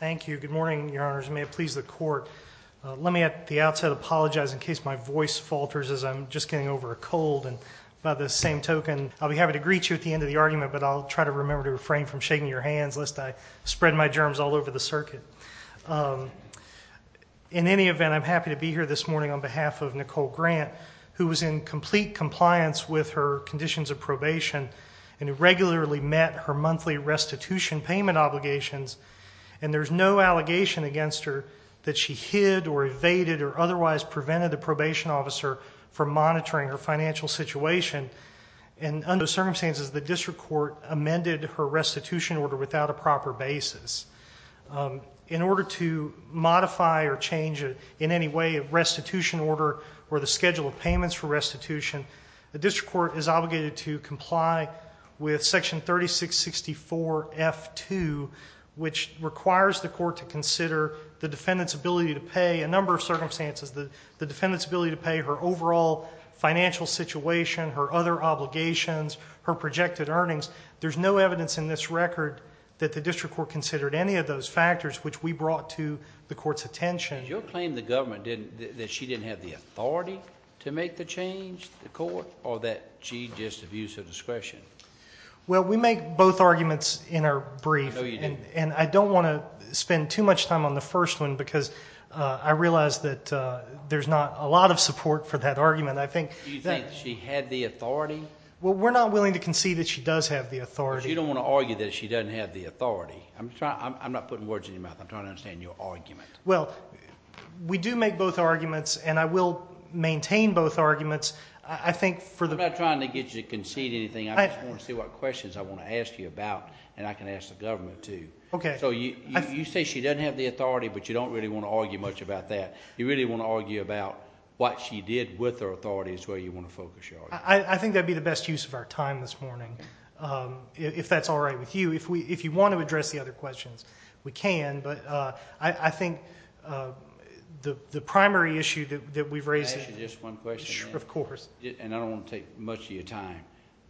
Thank you. Good morning, Your Honors. And may it please the Court, let me at the outset apologize in case my voice falters as I'm just getting over a cold. And by the same token, I'll be happy to greet you at the end of the argument, but I'll try to remember to refrain from shaking your hands lest I spread my germs all over the circuit. In any event, I'm happy to be here this morning on behalf of Nicole Grant, who was in complete compliance with her conditions of probation and who regularly met her monthly restitution payment obligations. And there's no allegation against her that she hid or evaded or otherwise prevented the probation officer from monitoring her financial situation. And under those circumstances, the District Court amended her restitution order without a proper basis. In order to modify or change in any way a restitution order or the schedule of payments for restitution, the District Court is obligated to comply with Section 3664F2, which requires the Court to consider the defendant's ability to pay a number of circumstances, the defendant's ability to pay her overall financial situation, her other obligations, her projected earnings. There's no evidence in this record that the District Court considered any of those factors which we brought to the Court's attention. Did you claim the government that she didn't have the authority to make the change, the Court, or that she just abused her discretion? Well, we make both arguments in our brief, and I don't want to spend too much time on the first one because I realize that there's not a lot of support for that argument. I think that... Do you think she had the authority? Well, we're not willing to concede that she does have the authority. Because you don't want to argue that she doesn't have the authority. I'm not putting words in your mouth. I'm trying to understand your argument. Well, we do make both arguments, and I will maintain both arguments. I think for the... I just want to see what questions I want to ask you about, and I can ask the government, too. Okay. So you say she doesn't have the authority, but you don't really want to argue much about that. You really want to argue about what she did with her authority is where you want to focus your argument. I think that would be the best use of our time this morning, if that's all right with you. If you want to address the other questions, we can, but I think the primary issue that we've raised... Can I ask you just one question? Sure, of course. And I don't want to take much of your time.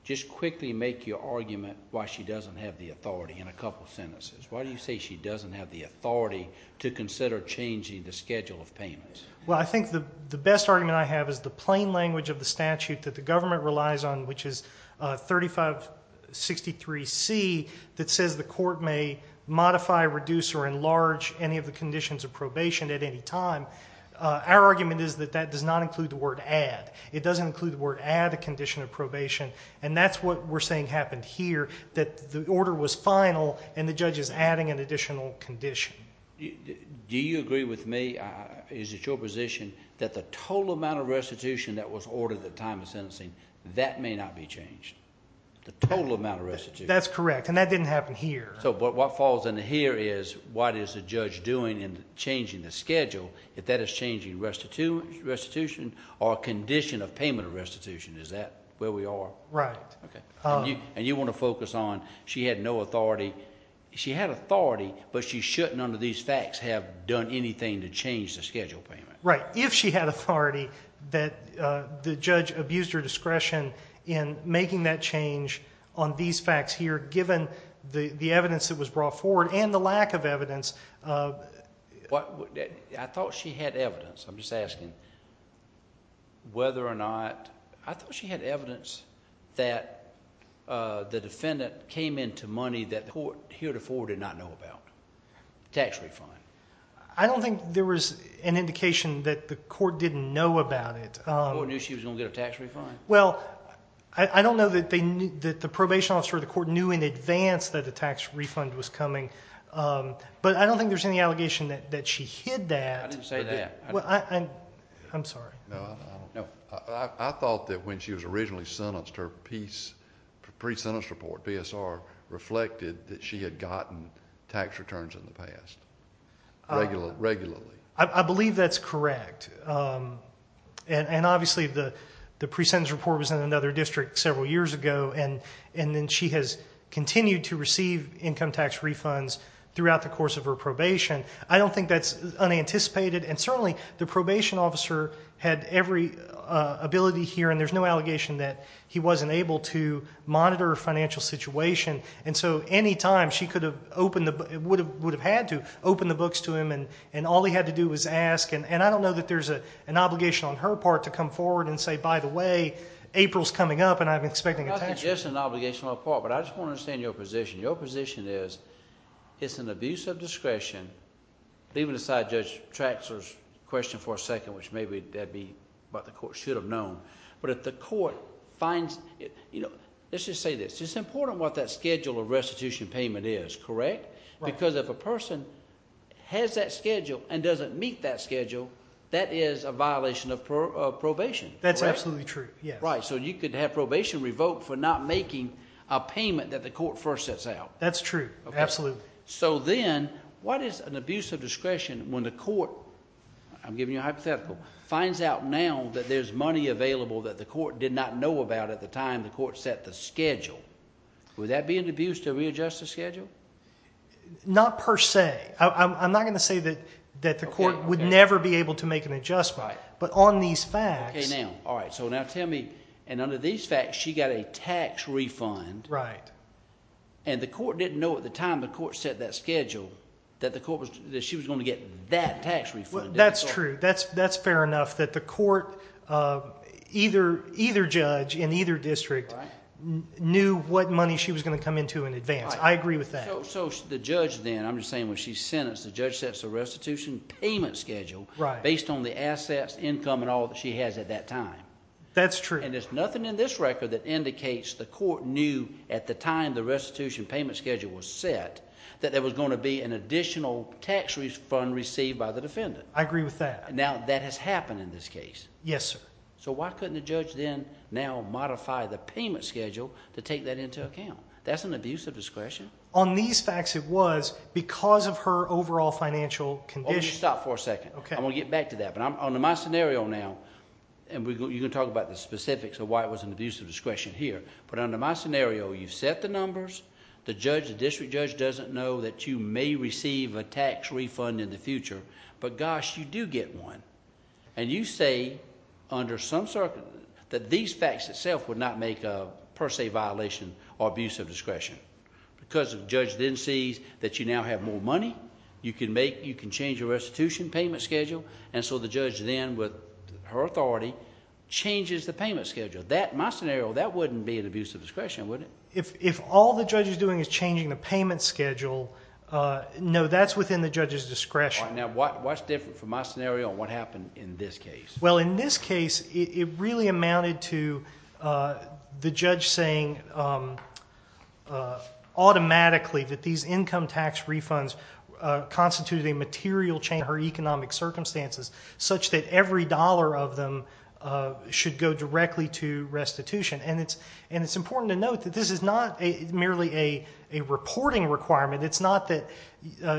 Just quickly make your argument why she doesn't have the authority in a couple sentences. Why do you say she doesn't have the authority to consider changing the schedule of payments? Well, I think the best argument I have is the plain language of the statute that the government relies on, which is 3563C, that says the court may modify, reduce, or enlarge any of the conditions of probation at any time. Our argument is that that does not include the word add. It doesn't include the word add a condition of probation, and that's what we're saying happened here, that the order was final and the judge is adding an additional condition. Do you agree with me? Is it your position that the total amount of restitution that was ordered at the time of sentencing, that may not be changed? The total amount of restitution? That's correct, and that didn't happen here. So what falls into here is what is the judge doing in changing the schedule? If that is changing restitution, or a condition of payment of restitution, is that where we are? Right. And you want to focus on she had no authority. She had authority, but she shouldn't under these facts have done anything to change the schedule of payments. Right. If she had authority, that the judge abused her discretion in making that change on these facts here, given the evidence that was brought forward and the lack of evidence. I thought she had evidence. I'm just asking whether or not, I thought she had evidence that the defendant came into money that the court heretofore did not know about. Tax refund. I don't think there was an indication that the court didn't know about it. The court knew she was going to get a tax refund? Well, I don't know that the probation officer of the court knew in advance that a tax refund was coming. But I don't think there's any allegation that she hid that. I didn't say that. I'm sorry. I thought that when she was originally sentenced, her pre-sentence report, BSR, reflected that she had gotten tax returns in the past. Regularly. I believe that's correct. And obviously the pre-sentence report was in another district several years ago, and then she has continued to receive income tax refunds throughout the course of her probation. I don't think that's unanticipated, and certainly the probation officer had every ability here, and there's no allegation that he wasn't able to monitor her financial situation. And so any time, she could have opened, would have had to open the books to him, and all he had to do was ask. And I don't know that there's an obligation on her part to come up, and I'm expecting a tax refund. I'm not suggesting an obligation on her part, but I just want to understand your position. Your position is, it's an abuse of discretion, leaving aside Judge Traxler's question for a second, which maybe that'd be what the court should have known. But if the court finds, you know, let's just say this. It's important what that schedule of restitution payment is, correct? Because if a person has that schedule and doesn't meet that schedule, that is a violation of probation. That's absolutely true, yes. Right, so you could have probation revoked for not making a payment that the court first sets out. That's true, absolutely. So then, what is an abuse of discretion when the court, I'm giving you a hypothetical, finds out now that there's money available that the court did not know about at the time the court set the schedule? Would that be an abuse to readjust the schedule? Not per se. I'm not going to say that the court would never be able to make an adjustment, but on these facts... Okay, now, all right, so now tell me, and under these facts, she got a tax refund. Right. And the court didn't know at the time the court set that schedule that she was going to get that tax refund. That's true. That's fair enough that the court, either judge in either district, knew what money she was going to come into in advance. I agree with that. So the judge then, I'm just saying when she's sentenced, the judge sets a restitution payment schedule based on the assets, income, and all that she has at that time. That's true. And there's nothing in this record that indicates the court knew at the time the restitution payment schedule was set that there was going to be an additional tax refund received by the defendant. I agree with that. Now, that has happened in this case. Yes, sir. So why couldn't the judge then now modify the payment schedule to take that into account? That's an abuse of discretion? On these facts, it was because of her overall financial condition. Stop for a second. Okay. I want to get back to that. But under my scenario now, and you can talk about the specifics of why it was an abuse of discretion here. But under my scenario, you've set the numbers. The judge, the district judge, doesn't know that you may receive a tax refund in the future. But gosh, you do get one. And you say that these facts itself would not make a per se violation or abuse of discretion. Because the judge then sees that you now have more money. You can change your restitution payment schedule. And so the judge then, with her authority, changes the payment schedule. That in my scenario, that wouldn't be an abuse of discretion, would it? If all the judge is doing is changing the payment schedule, no, that's within the judge's discretion. All right. Now, what's different from my scenario and what happened in this case? Well, in this case, it really amounted to the judge saying automatically that these income tax refunds constituted a material change in her economic circumstances such that every dollar of them should go directly to restitution. And it's important to note that this is not merely a reporting requirement. It's not that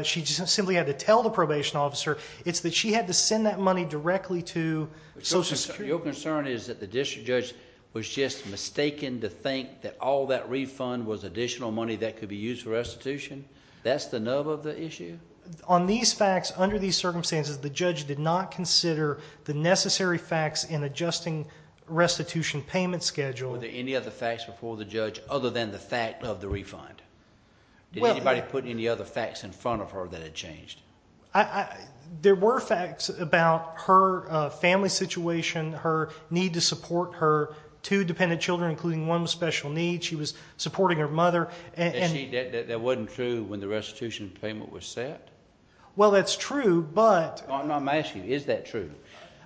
she just simply had to tell the probation officer. It's that she had to send that money directly to Social Security. Your concern is that the district judge was just mistaken to think that all that refund was additional money that could be used for restitution? That's the nub of the issue? On these facts, under these circumstances, the judge did not consider the necessary facts in adjusting restitution payment schedule. Were there any other facts before the judge other than the fact of the refund? Did anybody put any other facts in front of her that had changed? There were facts about her family situation, her need to support her two dependent children, including one with special needs. She was supporting her mother. That wasn't true when the restitution payment was set? Well, that's true, but... I'm asking you, is that true?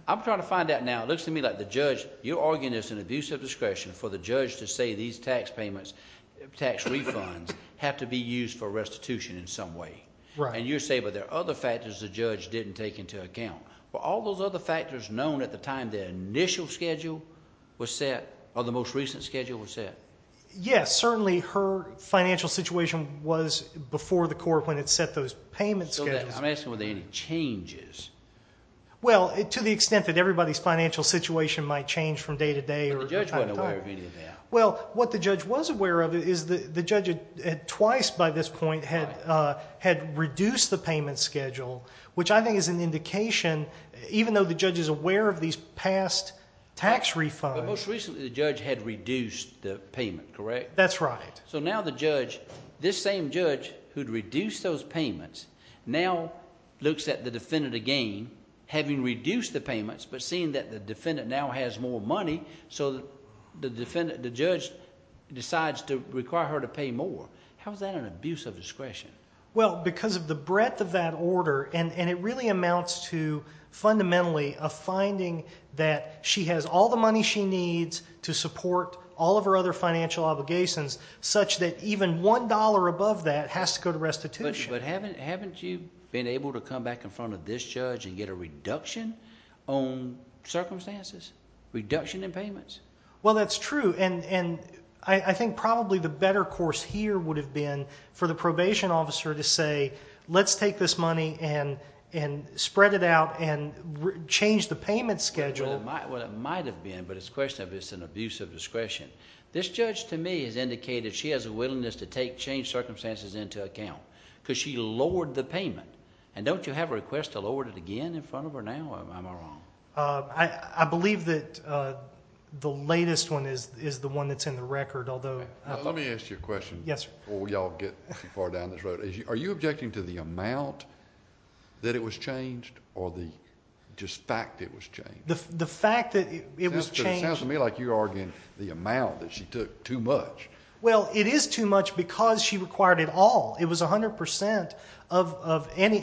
I'm trying to find out now. It looks to me like the judge, you're arguing this is an abuse of discretion for the judge to say these tax refunds have to be used for restitution in some way. And you're saying, but there are other factors the judge didn't take into account. All those other factors known at the time the initial schedule was set, or the most recent schedule was set? Yes, certainly her financial situation was before the court when it set those payment schedules. I'm asking, were there any changes? Well, to the extent that everybody's financial situation might change from day to day. But the judge wasn't aware of any of that. Well, what the judge was aware of is the judge, twice by this point, had reduced the payment schedule, which I think is an indication, even though the judge is aware of these past tax refunds... Most recently the judge had reduced the payment, correct? That's right. So now the judge, this same judge who'd reduced those payments, now looks at the defendant again, having reduced the payments, but seeing that the defendant now has more money, so the judge decides to require her to pay more. How is that an abuse of discretion? Well, because of the breadth of that order, and it really amounts to fundamentally a finding that she has all the money she needs to support all of her other financial obligations, such that even one dollar above that has to go to restitution. Haven't you been able to come back in front of this judge and get a reduction on circumstances? Reduction in payments? Well, that's true, and I think probably the better course here would have been for the probation officer to say, let's take this money and spread it out and change the payment schedule. Well, it might have been, but it's a question of if it's an abuse of discretion. This judge, to me, has indicated she has a willingness to take changed circumstances into account, because she lowered the payment, and don't you have a request to lower it again in front of her now, or am I wrong? I believe that the latest one is the one that's in the record, although... Let me ask you a question before we all get too far down this road. Are you objecting to the amount that it was changed, or the fact that it was changed? The fact that it was changed... It sounds to me like you're arguing the amount that she took too much. Well, it is too much because she required it all. It was 100 percent of any...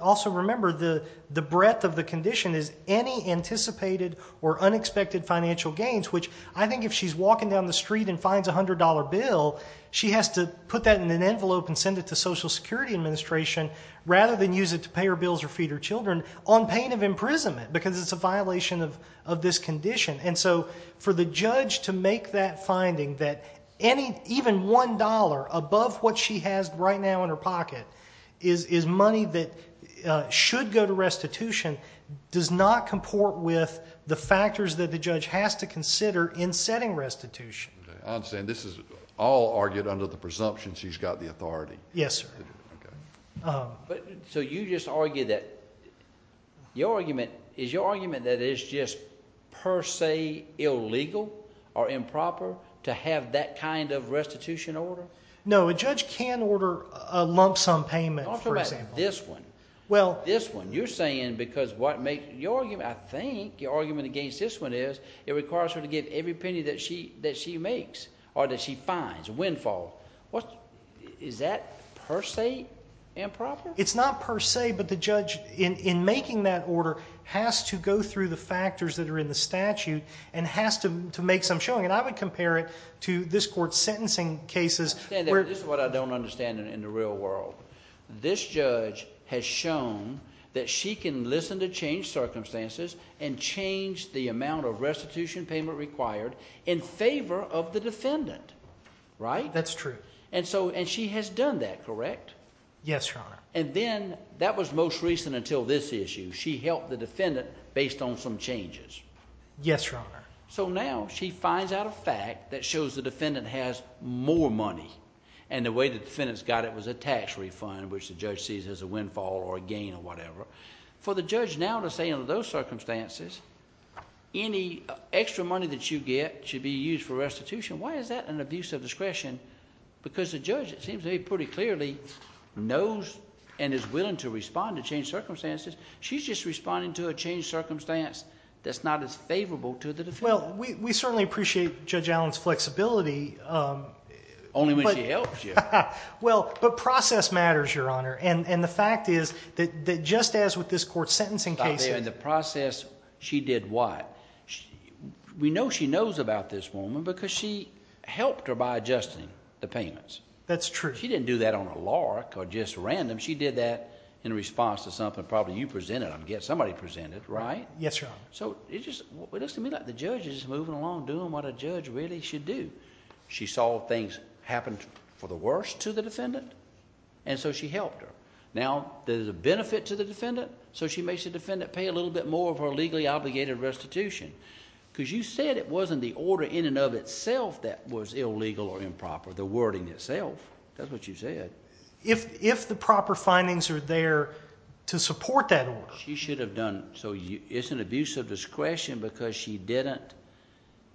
Also, remember, the breadth of the condition is any anticipated or unexpected financial gains, which I think if she's walking down the street and finds a $100 bill, she has to put that in an envelope and send it to Social Security Administration rather than use it to pay her bills or feed her children on pain of imprisonment, because it's a violation of this condition. For the judge to make that finding that even $1 above what she has right now in her pocket is money that should go to restitution does not comport with the factors that the judge has to consider in setting restitution. I understand. This is all argued under the presumption she's got the authority. Yes, sir. So you just argue that... Is your argument that it is just per se illegal or improper to have that kind of restitution order? No. A judge can order a lump sum payment, for example. This one. Well... This one. You're saying because what makes... I think your argument against this one is it requires her to give every penny that she makes or that she finds, windfall. Is that per se improper? It's not per se, but the judge in making that order has to go through the factors that are in the statute and has to make some showing, and I would compare it to this court's sentencing cases. This is what I don't understand in the real world. This judge has shown that she can listen to changed circumstances and change the amount of restitution payment required in favor of the defendant, right? That's true. And so... And she has done that, correct? Yes, Your Honor. And then that was most recent until this issue. She helped the defendant based on some changes. Yes, Your Honor. So now she finds out a fact that shows the defendant has more money, and the way the defendant's got it was a tax refund, which the judge sees as a windfall or a gain or whatever. For the judge now to say under those circumstances, any extra money that you get should be used for restitution, why is that an abuse of discretion? Because the judge, it seems to me, pretty clearly knows and is willing to respond to changed circumstances. She's just responding to a changed circumstance that's not as favorable to the defendant. Well, we certainly appreciate Judge Allen's flexibility. Only when she helps you. Well, but process matters, Your Honor. And the fact is that just as with this court sentencing case... In the process, she did what? We know she knows about this woman because she helped her by adjusting the payments. That's true. She didn't do that on a lark or just random. She did that in response to something probably you presented, I'm guessing somebody presented, right? Yes, Your Honor. So it just... it looks to me like the judge is moving along doing what a judge really should do. She saw things happen for the worst to the defendant, and so she helped her. Now there's a benefit to the defendant, so she makes the defendant pay a little bit more of her legally obligated restitution, because you said it wasn't the order in and of itself that was illegal or improper, the wording itself, that's what you said. If the proper findings are there to support that order... She should have done... so it's an abuse of discretion because she didn't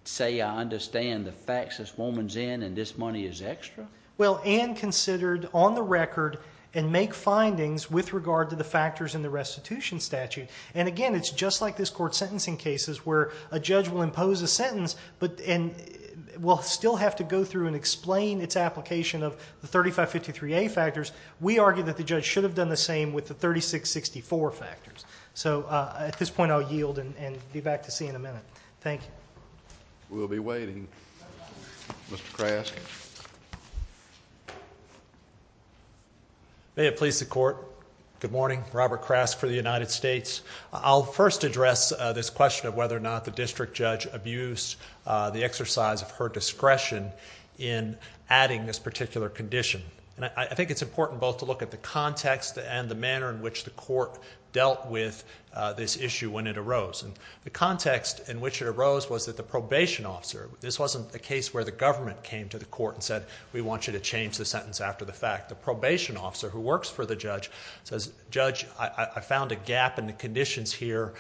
say, I understand the facts this woman's in and this money is extra? Well, and considered on the record and make findings with regard to the factors in the restitution statute. And again, it's just like this court's sentencing cases where a judge will impose a sentence and will still have to go through and explain its application of the 3553A factors. We argue that the judge should have done the same with the 3664 factors. So at this point, I'll yield and be back to see you in a minute. Thank you. We'll be waiting. Mr. Krask. May it please the court, good morning, Robert Krask for the United States. I'll first address this question of whether or not the district judge abused the exercise of her discretion in adding this particular condition. I think it's important both to look at the context and the manner in which the court dealt with this issue when it arose. The context in which it arose was that the probation officer, this wasn't a case where the government came to the court and said, we want you to change the sentence after the fact. The probation officer who works for the judge says, judge, I found a gap in the conditions here.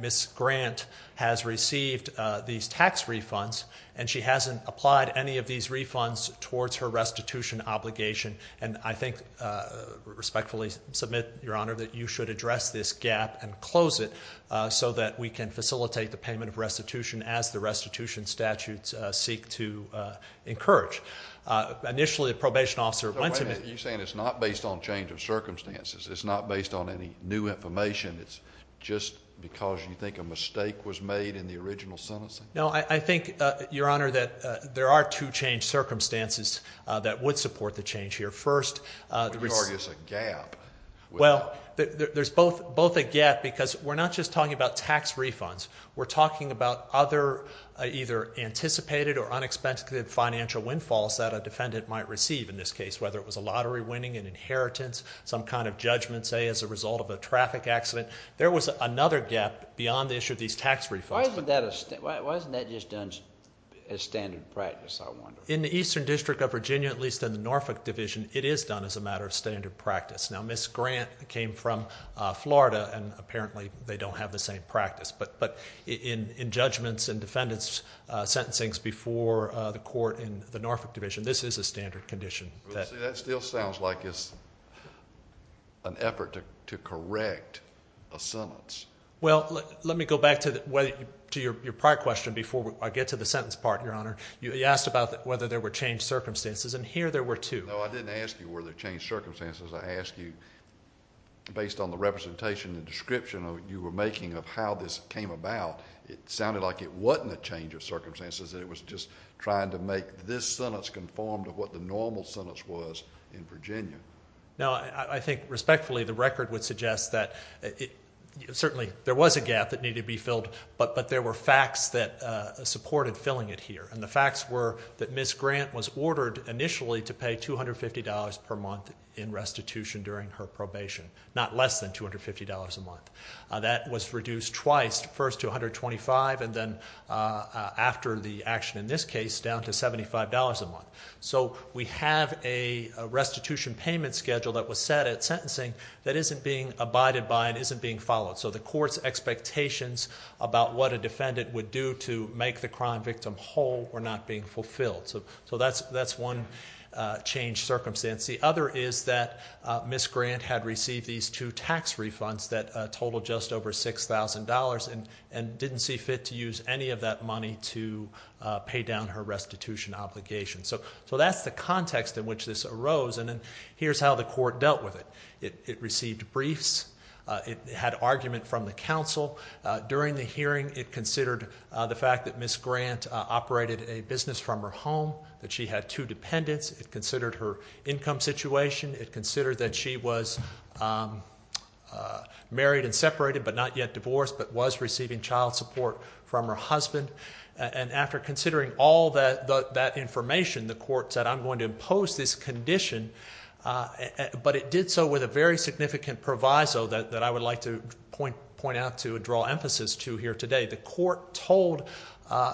Ms. Grant has received these tax refunds and she hasn't applied any of these refunds towards her restitution obligation. And I think, respectfully submit, your honor, that you should address this gap and close it so that we can facilitate the payment of restitution as the restitution statutes seek to encourage. Initially, the probation officer went to me. You're saying it's not based on change of circumstances? It's not based on any new information? It's just because you think a mistake was made in the original sentencing? No, I think, your honor, that there are two changed circumstances that would support the change here. First, there is a gap. Well, there's both a gap because we're not just talking about tax refunds. We're talking about other either anticipated or unexpected financial windfalls that a defendant might receive in this case, whether it was a lottery winning, an inheritance, some kind of judgment, say, as a result of a traffic accident. There was another gap beyond the issue of these tax refunds. Why isn't that just done as standard practice, I wonder? In the Eastern District of Virginia, at least in the Norfolk Division, it is done as a matter of standard practice. Now, Ms. Grant came from Florida, and apparently, they don't have the same practice. But in judgments and defendants' sentencing before the court in the Norfolk Division, this is a standard condition. Well, see, that still sounds like it's an effort to correct a sentence. Well, let me go back to your prior question before I get to the sentence part, your honor. You asked about whether there were changed circumstances, and here there were two. No, I didn't ask you whether there were changed circumstances. I asked you, based on the representation and description you were making of how this came about, it sounded like it wasn't a change of circumstances, that it was just trying to make this sentence conform to what the normal sentence was in Virginia. No, I think, respectfully, the record would suggest that certainly there was a gap that needed to be filled, but there were facts that supported filling it here, and the facts were that Ms. Grant was ordered initially to pay $250 per month in restitution during her probation, not less than $250 a month. That was reduced twice, first to $125, and then after the action in this case, down to $75 a month. So we have a restitution payment schedule that was set at sentencing that isn't being abided by and isn't being followed, so the court's expectations about what a defendant would do to make the crime victim whole were not being fulfilled. So that's one changed circumstance. The other is that Ms. Grant had received these two tax refunds that totaled just over $6,000 and didn't see fit to use any of that money to pay down her restitution obligation. So that's the context in which this arose, and then here's how the court dealt with it. It had argument from the counsel. During the hearing, it considered the fact that Ms. Grant operated a business from her home, that she had two dependents. It considered her income situation. It considered that she was married and separated, but not yet divorced, but was receiving child support from her husband. And after considering all that information, the court said, I'm going to impose this condition, but it did so with a very significant proviso that I would like to point out to draw emphasis to here today. The court told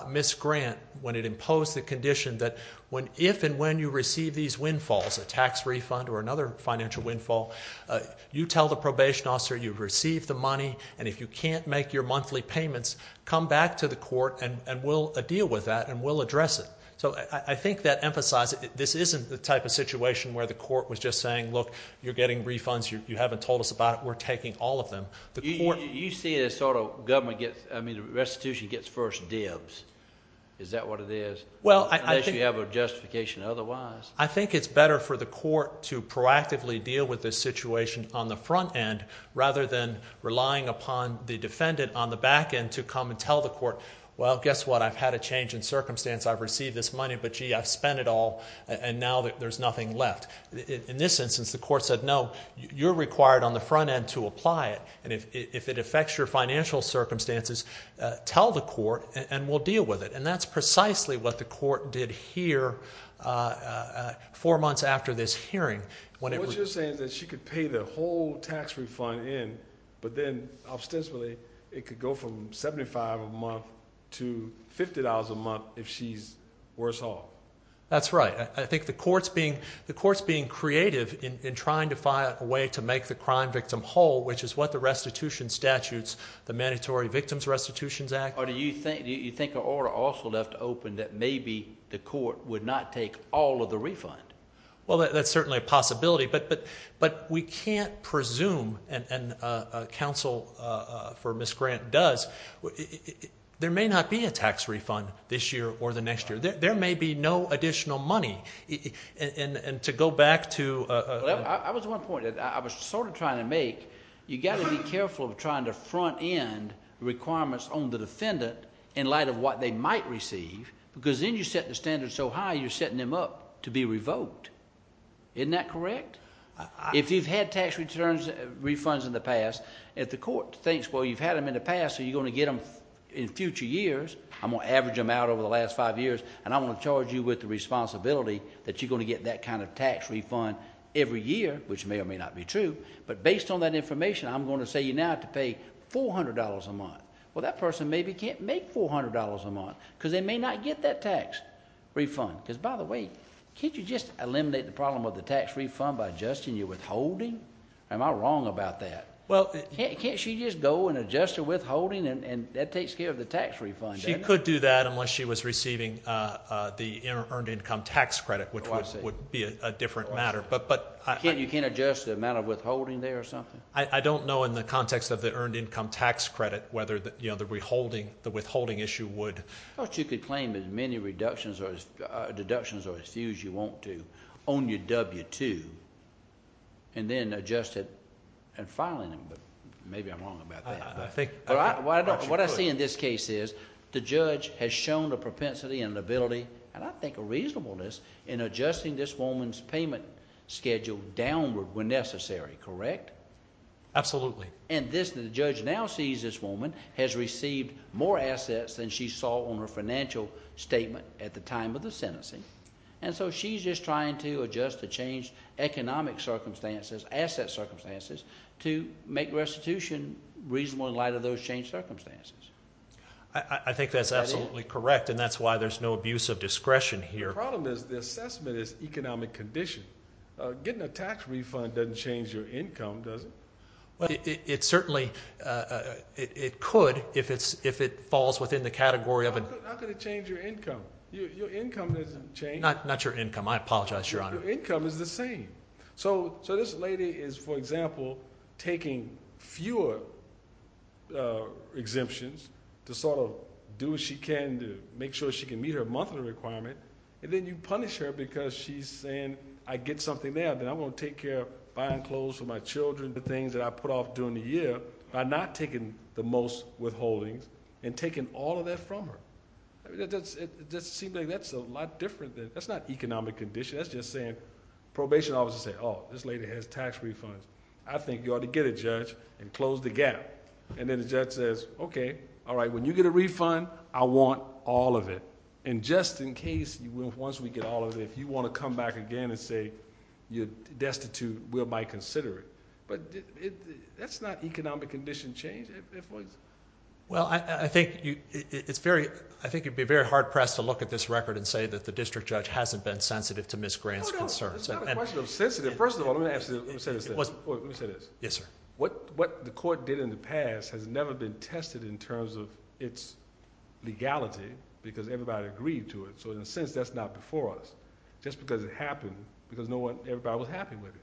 Ms. Grant, when it imposed the condition, that if and when you receive these windfalls, a tax refund or another financial windfall, you tell the probation officer you've received the money, and if you can't make your monthly payments, come back to the court and we'll deal with that and we'll address it. So I think that emphasizes, this isn't the type of situation where the court was just saying, look, you're getting refunds, you haven't told us about it, we're taking all of them. The court- You see it as sort of government gets, I mean, restitution gets first dibs. Is that what it is? Well, I think- Unless you have a justification otherwise. I think it's better for the court to proactively deal with this situation on the front end rather than relying upon the defendant on the back end to come and tell the court, well, guess what? I've had a change in circumstance. I've received this money, but, gee, I've spent it all, and now there's nothing left. In this instance, the court said, no, you're required on the front end to apply it, and if it affects your financial circumstances, tell the court and we'll deal with it. And that's precisely what the court did here four months after this hearing. What you're saying is that she could pay the whole tax refund in, but then, ostensibly, it could go from $75 a month to $50 a month if she's worse off. That's right. I think the court's being creative in trying to find a way to make the crime victim whole, which is what the restitution statutes, the Mandatory Victims Restitutions Act- Or do you think the order also left open that maybe the court would not take all of the refund? Well, that's certainly a possibility, but we can't presume, and counsel for Ms. Grant does, there may not be a tax refund this year or the next year. There may be no additional money. And to go back to- Well, I was at one point, I was sort of trying to make, you've got to be careful of trying to front end requirements on the defendant in light of what they might receive, because then you're setting the standards so high, you're setting them up to be revoked. Isn't that correct? If you've had tax refunds in the past, if the court thinks, well, you've had them in the past, so you're going to get them in future years, I'm going to average them out over the last five years, and I'm going to charge you with the responsibility that you're going to get that kind of tax refund every year, which may or may not be true, but based on that information, I'm going to say you now have to pay $400 a month. Well, that person maybe can't make $400 a month, because they may not get that tax refund. Because, by the way, can't you just eliminate the problem of the tax refund by adjusting your withholding? Am I wrong about that? Can't she just go and adjust her withholding, and that takes care of the tax refund? She could do that unless she was receiving the earned income tax credit, which would be a different matter. You can't adjust the amount of withholding there or something? I don't know, in the context of the earned income tax credit, whether the withholding issue would... I thought you could claim as many deductions or as few as you want to on your W-2, and then adjust it and filing it, but maybe I'm wrong about that. What I see in this case is the judge has shown a propensity and ability, and I think a reasonableness, in adjusting this woman's payment schedule downward when necessary, correct? Absolutely. And the judge now sees this woman has received more assets than she saw on her financial statement at the time of the sentencing, and so she's just trying to adjust the changed economic circumstances, asset circumstances, to make restitution reasonable in light of those changed circumstances. I think that's absolutely correct, and that's why there's no abuse of discretion here. The problem is the assessment is economic condition. Getting a tax refund doesn't change your income, does it? It certainly... it could if it falls within the category of... How could it change your income? Your income doesn't change. Not your income. I apologize, Your Honor. Your income is the same. So this lady is, for example, taking fewer exemptions to sort of do what she can to make sure she can meet her monthly requirement, and then you punish her because she's saying, I get something there, then I'm going to take care of buying clothes for my children, the things that I put off during the year, by not taking the most withholdings and taking all of that from her. It just seems like that's a lot different than... that's not economic condition. That's just saying... probation officers say, oh, this lady has tax refunds. I think you ought to get a judge and close the gap. Then the judge says, okay, all right, when you get a refund, I want all of it. Just in case, once we get all of it, if you want to come back again and say, you're destitute, we'll buy... consider it. That's not economic condition change, if... Well, I think you'd be very hard pressed to look at this record and say that the district judge hasn't been sensitive to Ms. Grant's concerns. No, no. It's not a question of sensitive. First of all, let me ask you this. Let me say this. Yes, sir. What the court did in the past has never been tested in terms of its legality, because everybody agreed to it. In a sense, that's not before us, just because it happened, because no one... everybody was happy with it.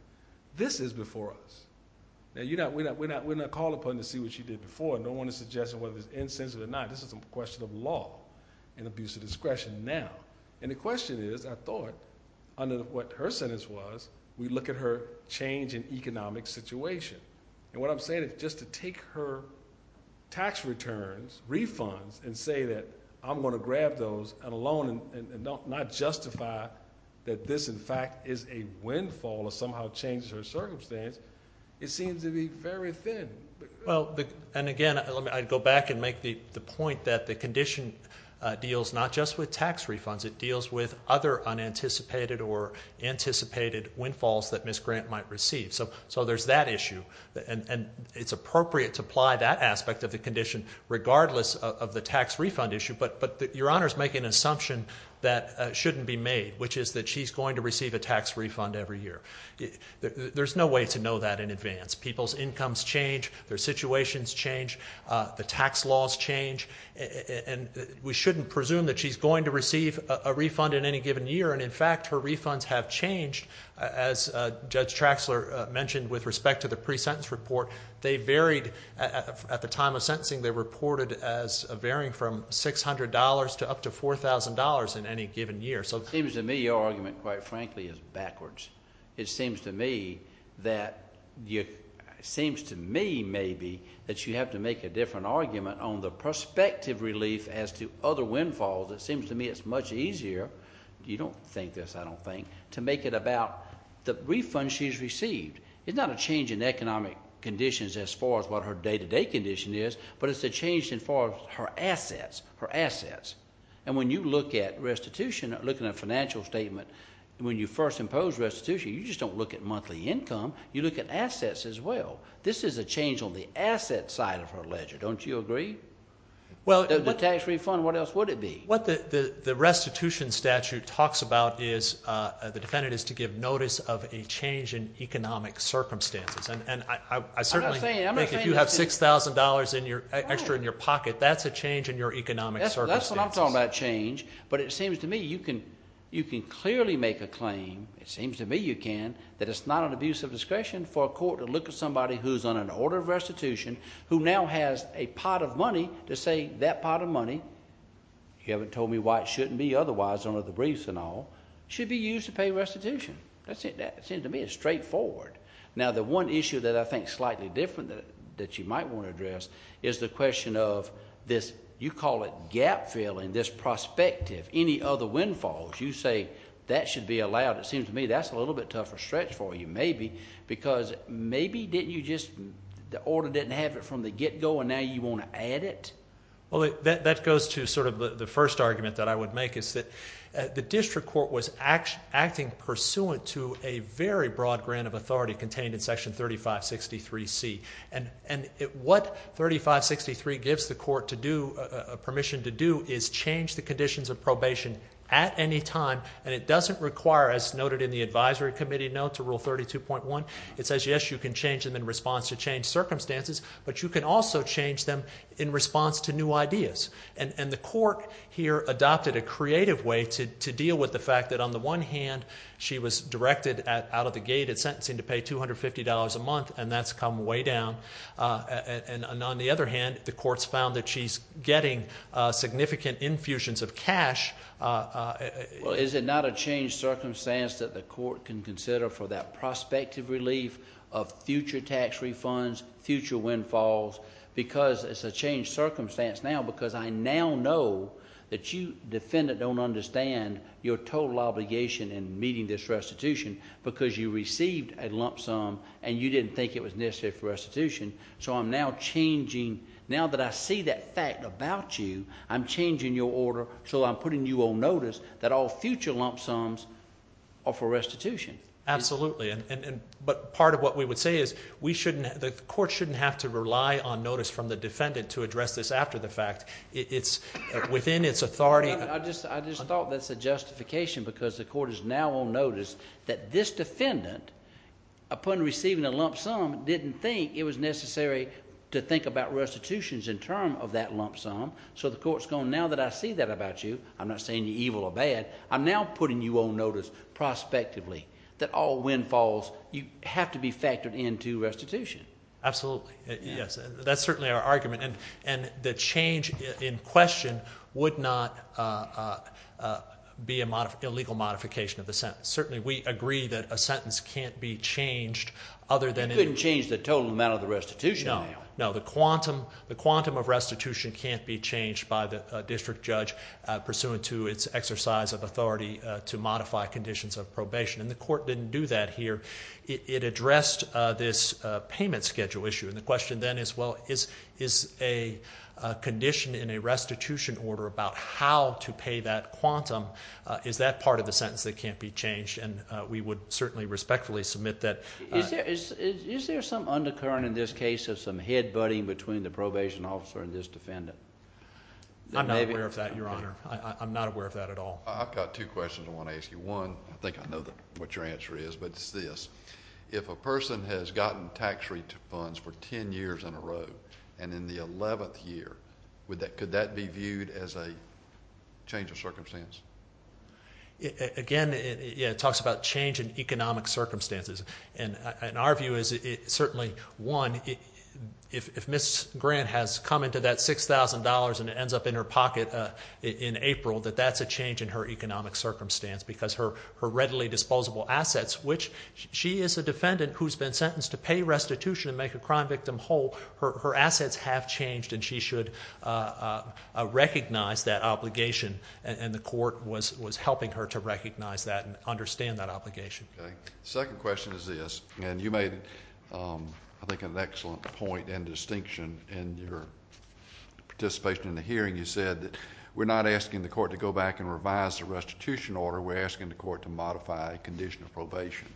This is before us. We're not called upon to see what she did before. I don't want to suggest whether it's insensitive or not. This is a question of law and abuse of discretion now. The question is, I thought, under what her sentence was, we look at her change in economic situation. What I'm saying is just to take her tax returns, refunds, and say that I'm going to grab those on a loan and not justify that this, in fact, is a windfall or somehow changes her circumstance, it seems to be very thin. Well, and again, I'd go back and make the point that the condition deals not just with tax refunds. It deals with other unanticipated or anticipated windfalls that Ms. Grant might receive. So there's that issue, and it's appropriate to apply that aspect of the condition regardless of the tax refund issue, but Your Honor's making an assumption that shouldn't be made, which is that she's going to receive a tax refund every year. There's no way to know that in advance. People's incomes change, their situations change, the tax laws change, and we shouldn't presume that she's going to receive a refund in any given year, and in fact, her refunds have changed. As Judge Traxler mentioned with respect to the pre-sentence report, they varied. At the time of sentencing, they reported as varying from $600 to up to $4,000 in any given year. It seems to me your argument, quite frankly, is backwards. It seems to me that you have to make a different argument on the prospective relief as to other windfalls. It seems to me it's much easier, you don't think this, I don't think, to make it about the refund she's received. It's not a change in economic conditions as far as what her day-to-day condition is, but it's a change in far as her assets, her assets. And when you look at restitution, looking at a financial statement, when you first impose restitution, you just don't look at monthly income, you look at assets as well. This is a change on the asset side of her ledger, don't you agree? The tax refund, what else would it be? What the restitution statute talks about is, the defendant is to give notice of a change in economic circumstances. And I certainly think if you have $6,000 extra in your pocket, that's a change in your economic circumstances. That's what I'm talking about, change. But it seems to me you can clearly make a claim, it seems to me you can, that it's not an abuse of discretion for a court to look at somebody who's on an order of restitution, who now has a pot of money to say, that pot of money, you haven't told me why it shouldn't be otherwise under the briefs and all, should be used to pay restitution. That seems to me straightforward. Now the one issue that I think is slightly different that you might want to address is the question of this, you call it gap-filling, this prospective, any other windfalls. You say, that should be allowed, it seems to me that's a little bit tougher stretch for you, maybe, because maybe didn't you just, the order didn't have it from the get-go and now you want to add it? That goes to sort of the first argument that I would make is that the district court was acting pursuant to a very broad grant of authority contained in section 3563C. And what 3563 gives the court to do, permission to do, is change the conditions of probation at any time, and it doesn't require, as noted in the advisory committee note to rule 32.1, it says yes, you can change them in response to changed circumstances, but you can also change them in response to new ideas. And the court here adopted a creative way to deal with the fact that on the one hand, she was directed out of the gate and sentencing to pay $250 a month, and that's come way down. And on the other hand, the court's found that she's getting significant infusions of cash. Is it not a changed circumstance that the court can consider for that prospective relief of future tax refunds, future windfalls? Because it's a changed circumstance now because I now know that you, defendant, don't understand your total obligation in meeting this restitution because you received a lump sum and you didn't think it was necessary for restitution. So I'm now changing, now that I see that fact about you, I'm changing your order so I'm putting you on notice that all future lump sums are for restitution. Absolutely. But part of what we would say is the court shouldn't have to rely on notice from the defendant to address this after the fact. It's within its authority. I just thought that's a justification because the court is now on notice that this defendant, upon receiving a lump sum, didn't think it was necessary to think about restitutions in term of that lump sum. So the court's gone, now that I see that about you, I'm not saying you're evil or bad, I'm now putting you on notice prospectively that all windfalls have to be factored into restitution. Absolutely. Yes. That's certainly our argument. And the change in question would not be an illegal modification of the sentence. Certainly, we agree that a sentence can't be changed other than- You couldn't change the total amount of the restitution. No. No. The quantum of restitution can't be changed by the district judge pursuant to its exercise of authority to modify conditions of probation, and the court didn't do that here. It addressed this payment schedule issue, and the question then is, well, is a condition in a restitution order about how to pay that quantum, is that part of the sentence that can't be changed? And we would certainly respectfully submit that. Is there some undercurrent in this case of some head-butting between the probation officer and this defendant? I'm not aware of that, Your Honor. I'm not aware of that at all. I've got two questions I want to ask you. One, I think I know what your answer is, but it's this. If a person has gotten tax refunds for 10 years in a row, and in the 11th year, could that be viewed as a change of circumstance? Again, it talks about change in economic circumstances, and our view is certainly, one, if Ms. Grant has come into that $6,000 and it ends up in her pocket in April, that that's a change in her economic circumstance because her readily disposable assets, which she is a defendant who's been sentenced to pay restitution and make a crime victim whole, her assets have her to recognize that and understand that obligation. Okay. The second question is this, and you made, I think, an excellent point and distinction in your participation in the hearing. You said that we're not asking the court to go back and revise the restitution order. We're asking the court to modify a condition of probation.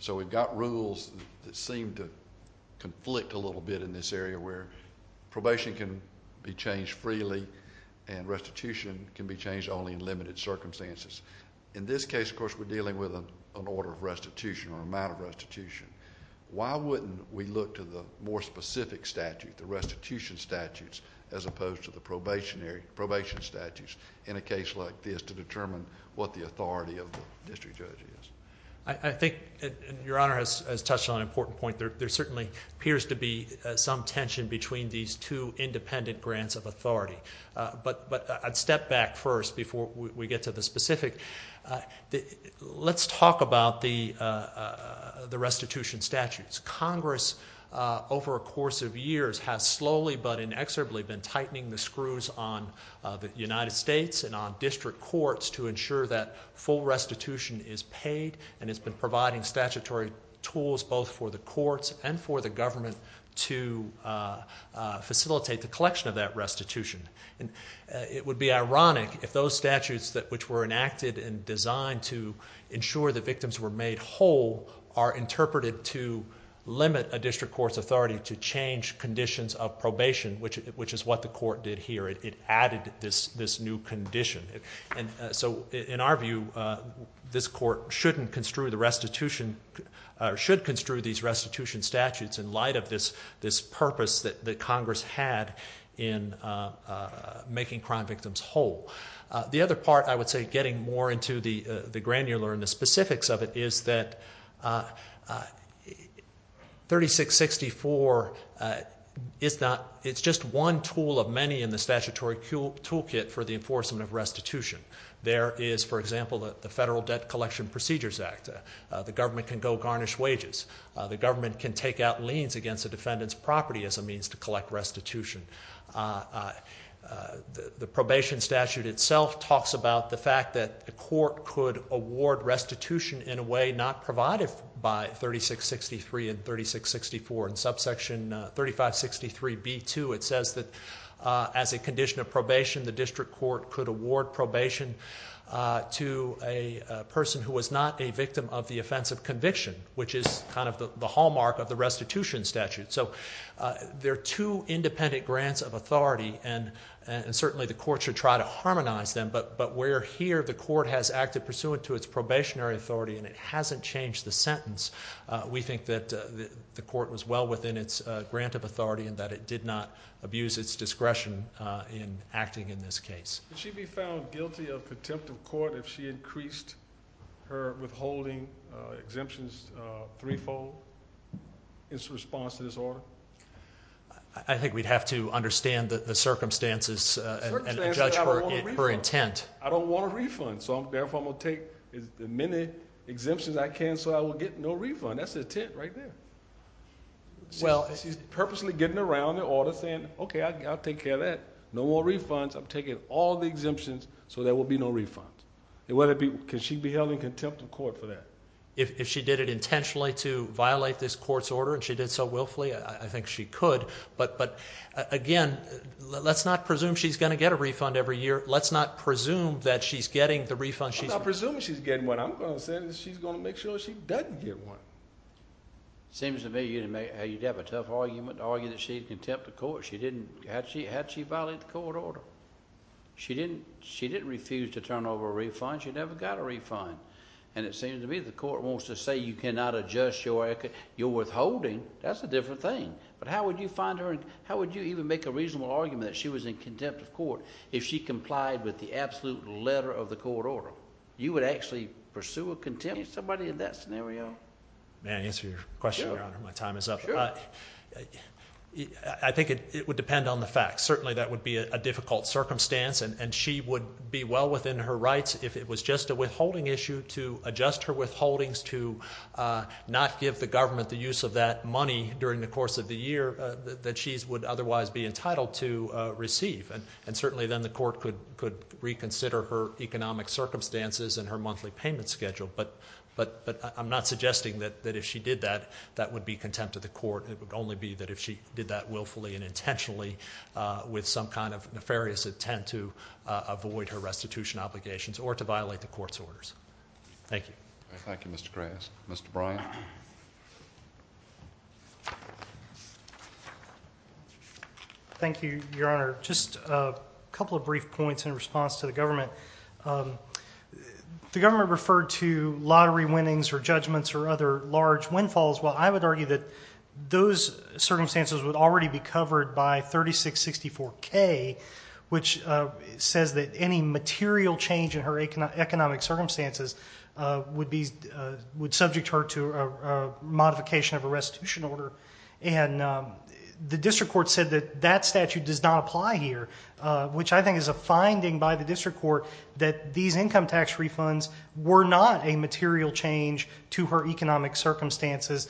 So we've got rules that seem to conflict a little bit in this area where probation can be changed freely and restitution can be changed only in limited circumstances. In this case, of course, we're dealing with an order of restitution or amount of restitution. Why wouldn't we look to the more specific statute, the restitution statutes, as opposed to the probation statutes in a case like this to determine what the authority of the district judge is? I think, and Your Honor has touched on an important point, there certainly appears to be some tension between these two independent grants of authority. But I'd step back first before we get to the specific. Let's talk about the restitution statutes. Congress over a course of years has slowly but inexorably been tightening the screws on the United States and on district courts to ensure that full restitution is paid and it's been providing statutory tools both for the courts and for the government to facilitate the collection of that restitution. It would be ironic if those statutes which were enacted and designed to ensure the victims were made whole are interpreted to limit a district court's authority to change conditions of probation, which is what the court did here. It added this new condition. So in our view, this court shouldn't construe the restitution or should construe these restitution statutes in light of this purpose that Congress had in making crime victims whole. The other part, I would say, getting more into the granular and the specifics of it, is that 3664, it's just one tool of many in the statutory toolkit for the enforcement of restitution. There is, for example, the Federal Debt Collection Procedures Act. The government can go garnish wages. The government can take out liens against a defendant's property as a means to collect restitution. The probation statute itself talks about the fact that the court could award restitution in a way not provided by 3663 and 3664. In subsection 3563B2, it says that as a condition of probation, the district court could award probation to a person who was not a victim of the offense of conviction, which is kind of the hallmark of the restitution statute. So there are two independent grants of authority, and certainly the court should try to harmonize them, but where here the court has acted pursuant to its probationary authority and it hasn't changed the sentence, we think that the court was well within its grant of authority and that it did not abuse its discretion in acting in this case. Would she be found guilty of contempt of court if she increased her withholding exemptions threefold in response to this order? I think we'd have to understand the circumstances and judge her intent. I don't want a refund. So therefore I'm going to take as many exemptions as I can so I will get no refund. That's her intent right there. She's purposely getting around the order saying, okay, I'll take care of that. No more refunds. I'm taking all the exemptions so there will be no refunds. Can she be held in contempt of court for that? If she did it intentionally to violate this court's order and she did so willfully, I think she could, but again, let's not presume she's going to get a refund every year. Let's not presume that she's getting the refund she's receiving. I'm not presuming she's getting one. I'm going to say that she's going to make sure she doesn't get one. Seems to me you'd have a tough argument to argue that she's contempt of court had she violated the court order. She didn't refuse to turn over a refund. She never got a refund. And it seems to me the court wants to say you cannot adjust your withholding. That's a different thing. But how would you find her and how would you even make a reasonable argument that she was in contempt of court? If she complied with the absolute letter of the court order, you would actually pursue a contempt of court? Is somebody in that scenario? May I answer your question, Your Honor? Sure. My time is up. Sure. I think it would depend on the facts. Certainly that would be a difficult circumstance and she would be well within her rights if it was just a withholding issue to adjust her withholdings to not give the government the use of that money during the course of the year that she would otherwise be entitled to receive. And certainly then the court could reconsider her economic circumstances and her monthly payment schedule. But I'm not suggesting that if she did that, that would be contempt of the court. It would only be that if she did that willfully and intentionally with some kind of nefarious intent to avoid her restitution obligations or to violate the court's orders. Thank you. Thank you, Mr. Graves. Mr. Bryant. Thank you, Your Honor. Just a couple of brief points in response to the government. The government referred to lottery winnings or judgments or other large windfalls. Well, I would argue that those circumstances would already be covered by 3664K, which says that any material change in her economic circumstances would subject her to a modification of a restitution order. And the district court said that that statute does not apply here, which I think is a finding by the district court that these income tax refunds were not a material change to her economic circumstances.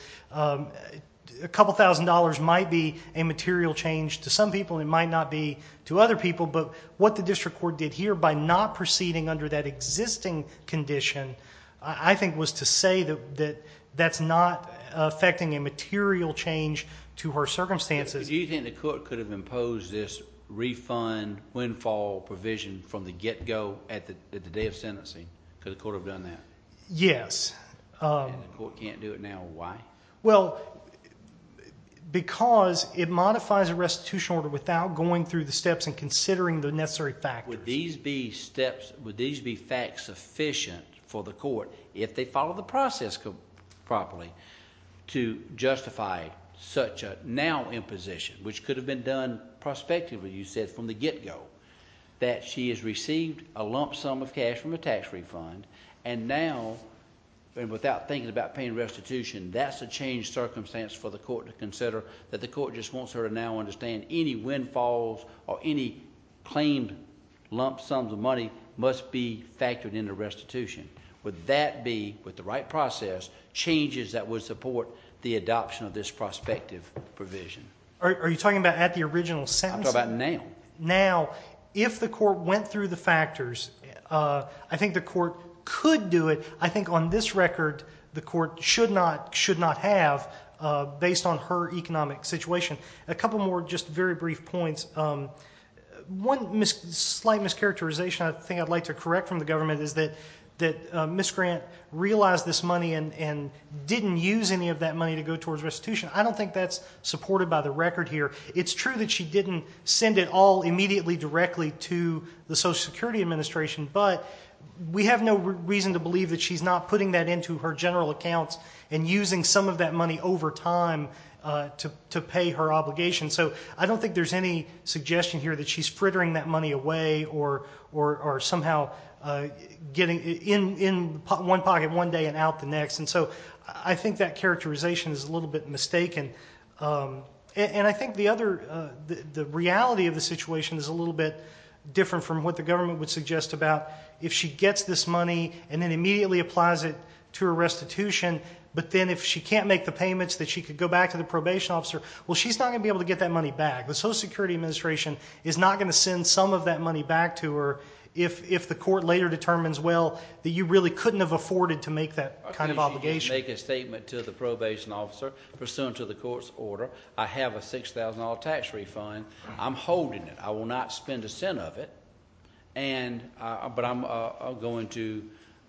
A couple thousand dollars might be a material change to some people. It might not be to other people. But what the district court did here by not proceeding under that existing condition, I think, was to say that that's not affecting a material change to her circumstances. Do you think the court could have imposed this refund windfall provision from the get-go at the day of sentencing? Could the court have done that? Yes. And the court can't do it now. Why? Well, because it modifies a restitution order without going through the steps and considering the necessary factors. Now, would these be facts sufficient for the court, if they follow the process properly, to justify such a now imposition, which could have been done prospectively, you said, from the get-go, that she has received a lump sum of cash from a tax refund and now, without thinking about paying restitution, that's a changed circumstance for the court to consider and any windfalls or any claimed lump sums of money must be factored into restitution. Would that be, with the right process, changes that would support the adoption of this prospective provision? Are you talking about at the original sentencing? I'm talking about now. Now, if the court went through the factors, I think the court could do it. I think on this record, the court should not have, based on her economic situation. A couple more just very brief points. One slight mischaracterization I think I'd like to correct from the government is that Ms. Grant realized this money and didn't use any of that money to go towards restitution. I don't think that's supported by the record here. It's true that she didn't send it all immediately directly to the Social Security Administration, but we have no reason to believe that she's not putting that into her general accounts and using some of that money over time to pay her obligation. I don't think there's any suggestion here that she's frittering that money away or somehow getting it in one pocket one day and out the next. I think that characterization is a little bit mistaken. I think the reality of the situation is a little bit different from what the government would suggest about if she gets this money and then immediately applies it to her restitution, but then if she can't make the payments that she could go back to the probation officer, well, she's not going to be able to get that money back. The Social Security Administration is not going to send some of that money back to her if the court later determines, well, that you really couldn't have afforded to make that kind of obligation. Okay, she didn't make a statement to the probation officer pursuant to the court's order. I have a $6,000 tax refund. I'm holding it. I will not spend a cent of it, but I'm going to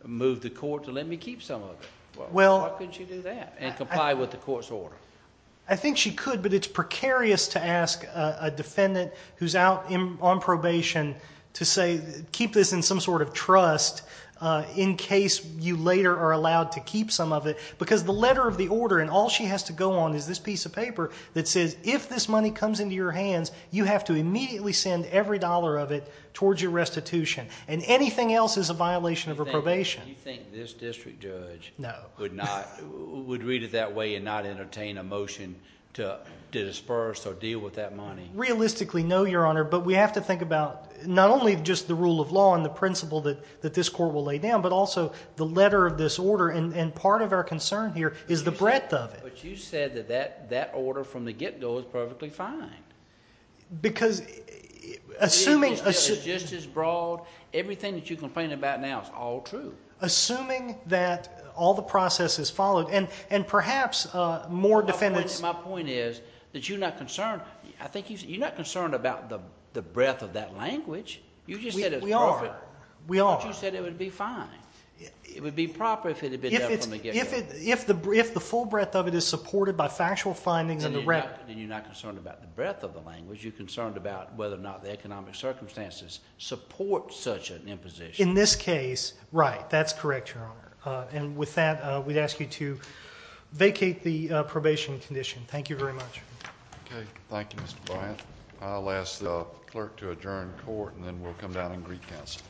move the court to let me keep some of it. Why couldn't she do that and comply with the court's order? I think she could, but it's precarious to ask a defendant who's out on probation to say keep this in some sort of trust in case you later are allowed to keep some of it because the letter of the order and all she has to go on is this piece of paper that says if this money comes into your hands, you have to immediately send every dollar of it towards your restitution and anything else is a violation of her probation. Do you think this district judge would read it that way and not entertain a motion to disperse or deal with that money? Realistically, no, Your Honor, but we have to think about not only just the rule of law and the principle that this court will lay down, but also the letter of this order and part of our concern here is the breadth of it. But you said that that order from the get-go is perfectly fine. Because assuming... Assuming that all the process is followed and perhaps more defendants... My point is that you're not concerned. I think you're not concerned about the breadth of that language. You just said it's perfect. We are. We are. But you said it would be fine. It would be proper if it had been done from the get-go. If the full breadth of it is supported by factual findings and direct... Then you're not concerned about the breadth of the language. You're concerned about whether or not the economic circumstances support such an imposition. In this case, right. That's correct, Your Honor. And with that, we'd ask you to vacate the probation condition. Thank you very much. Okay. Thank you, Mr. Bryant. I'll ask the clerk to adjourn court and then we'll come down and greet counsel.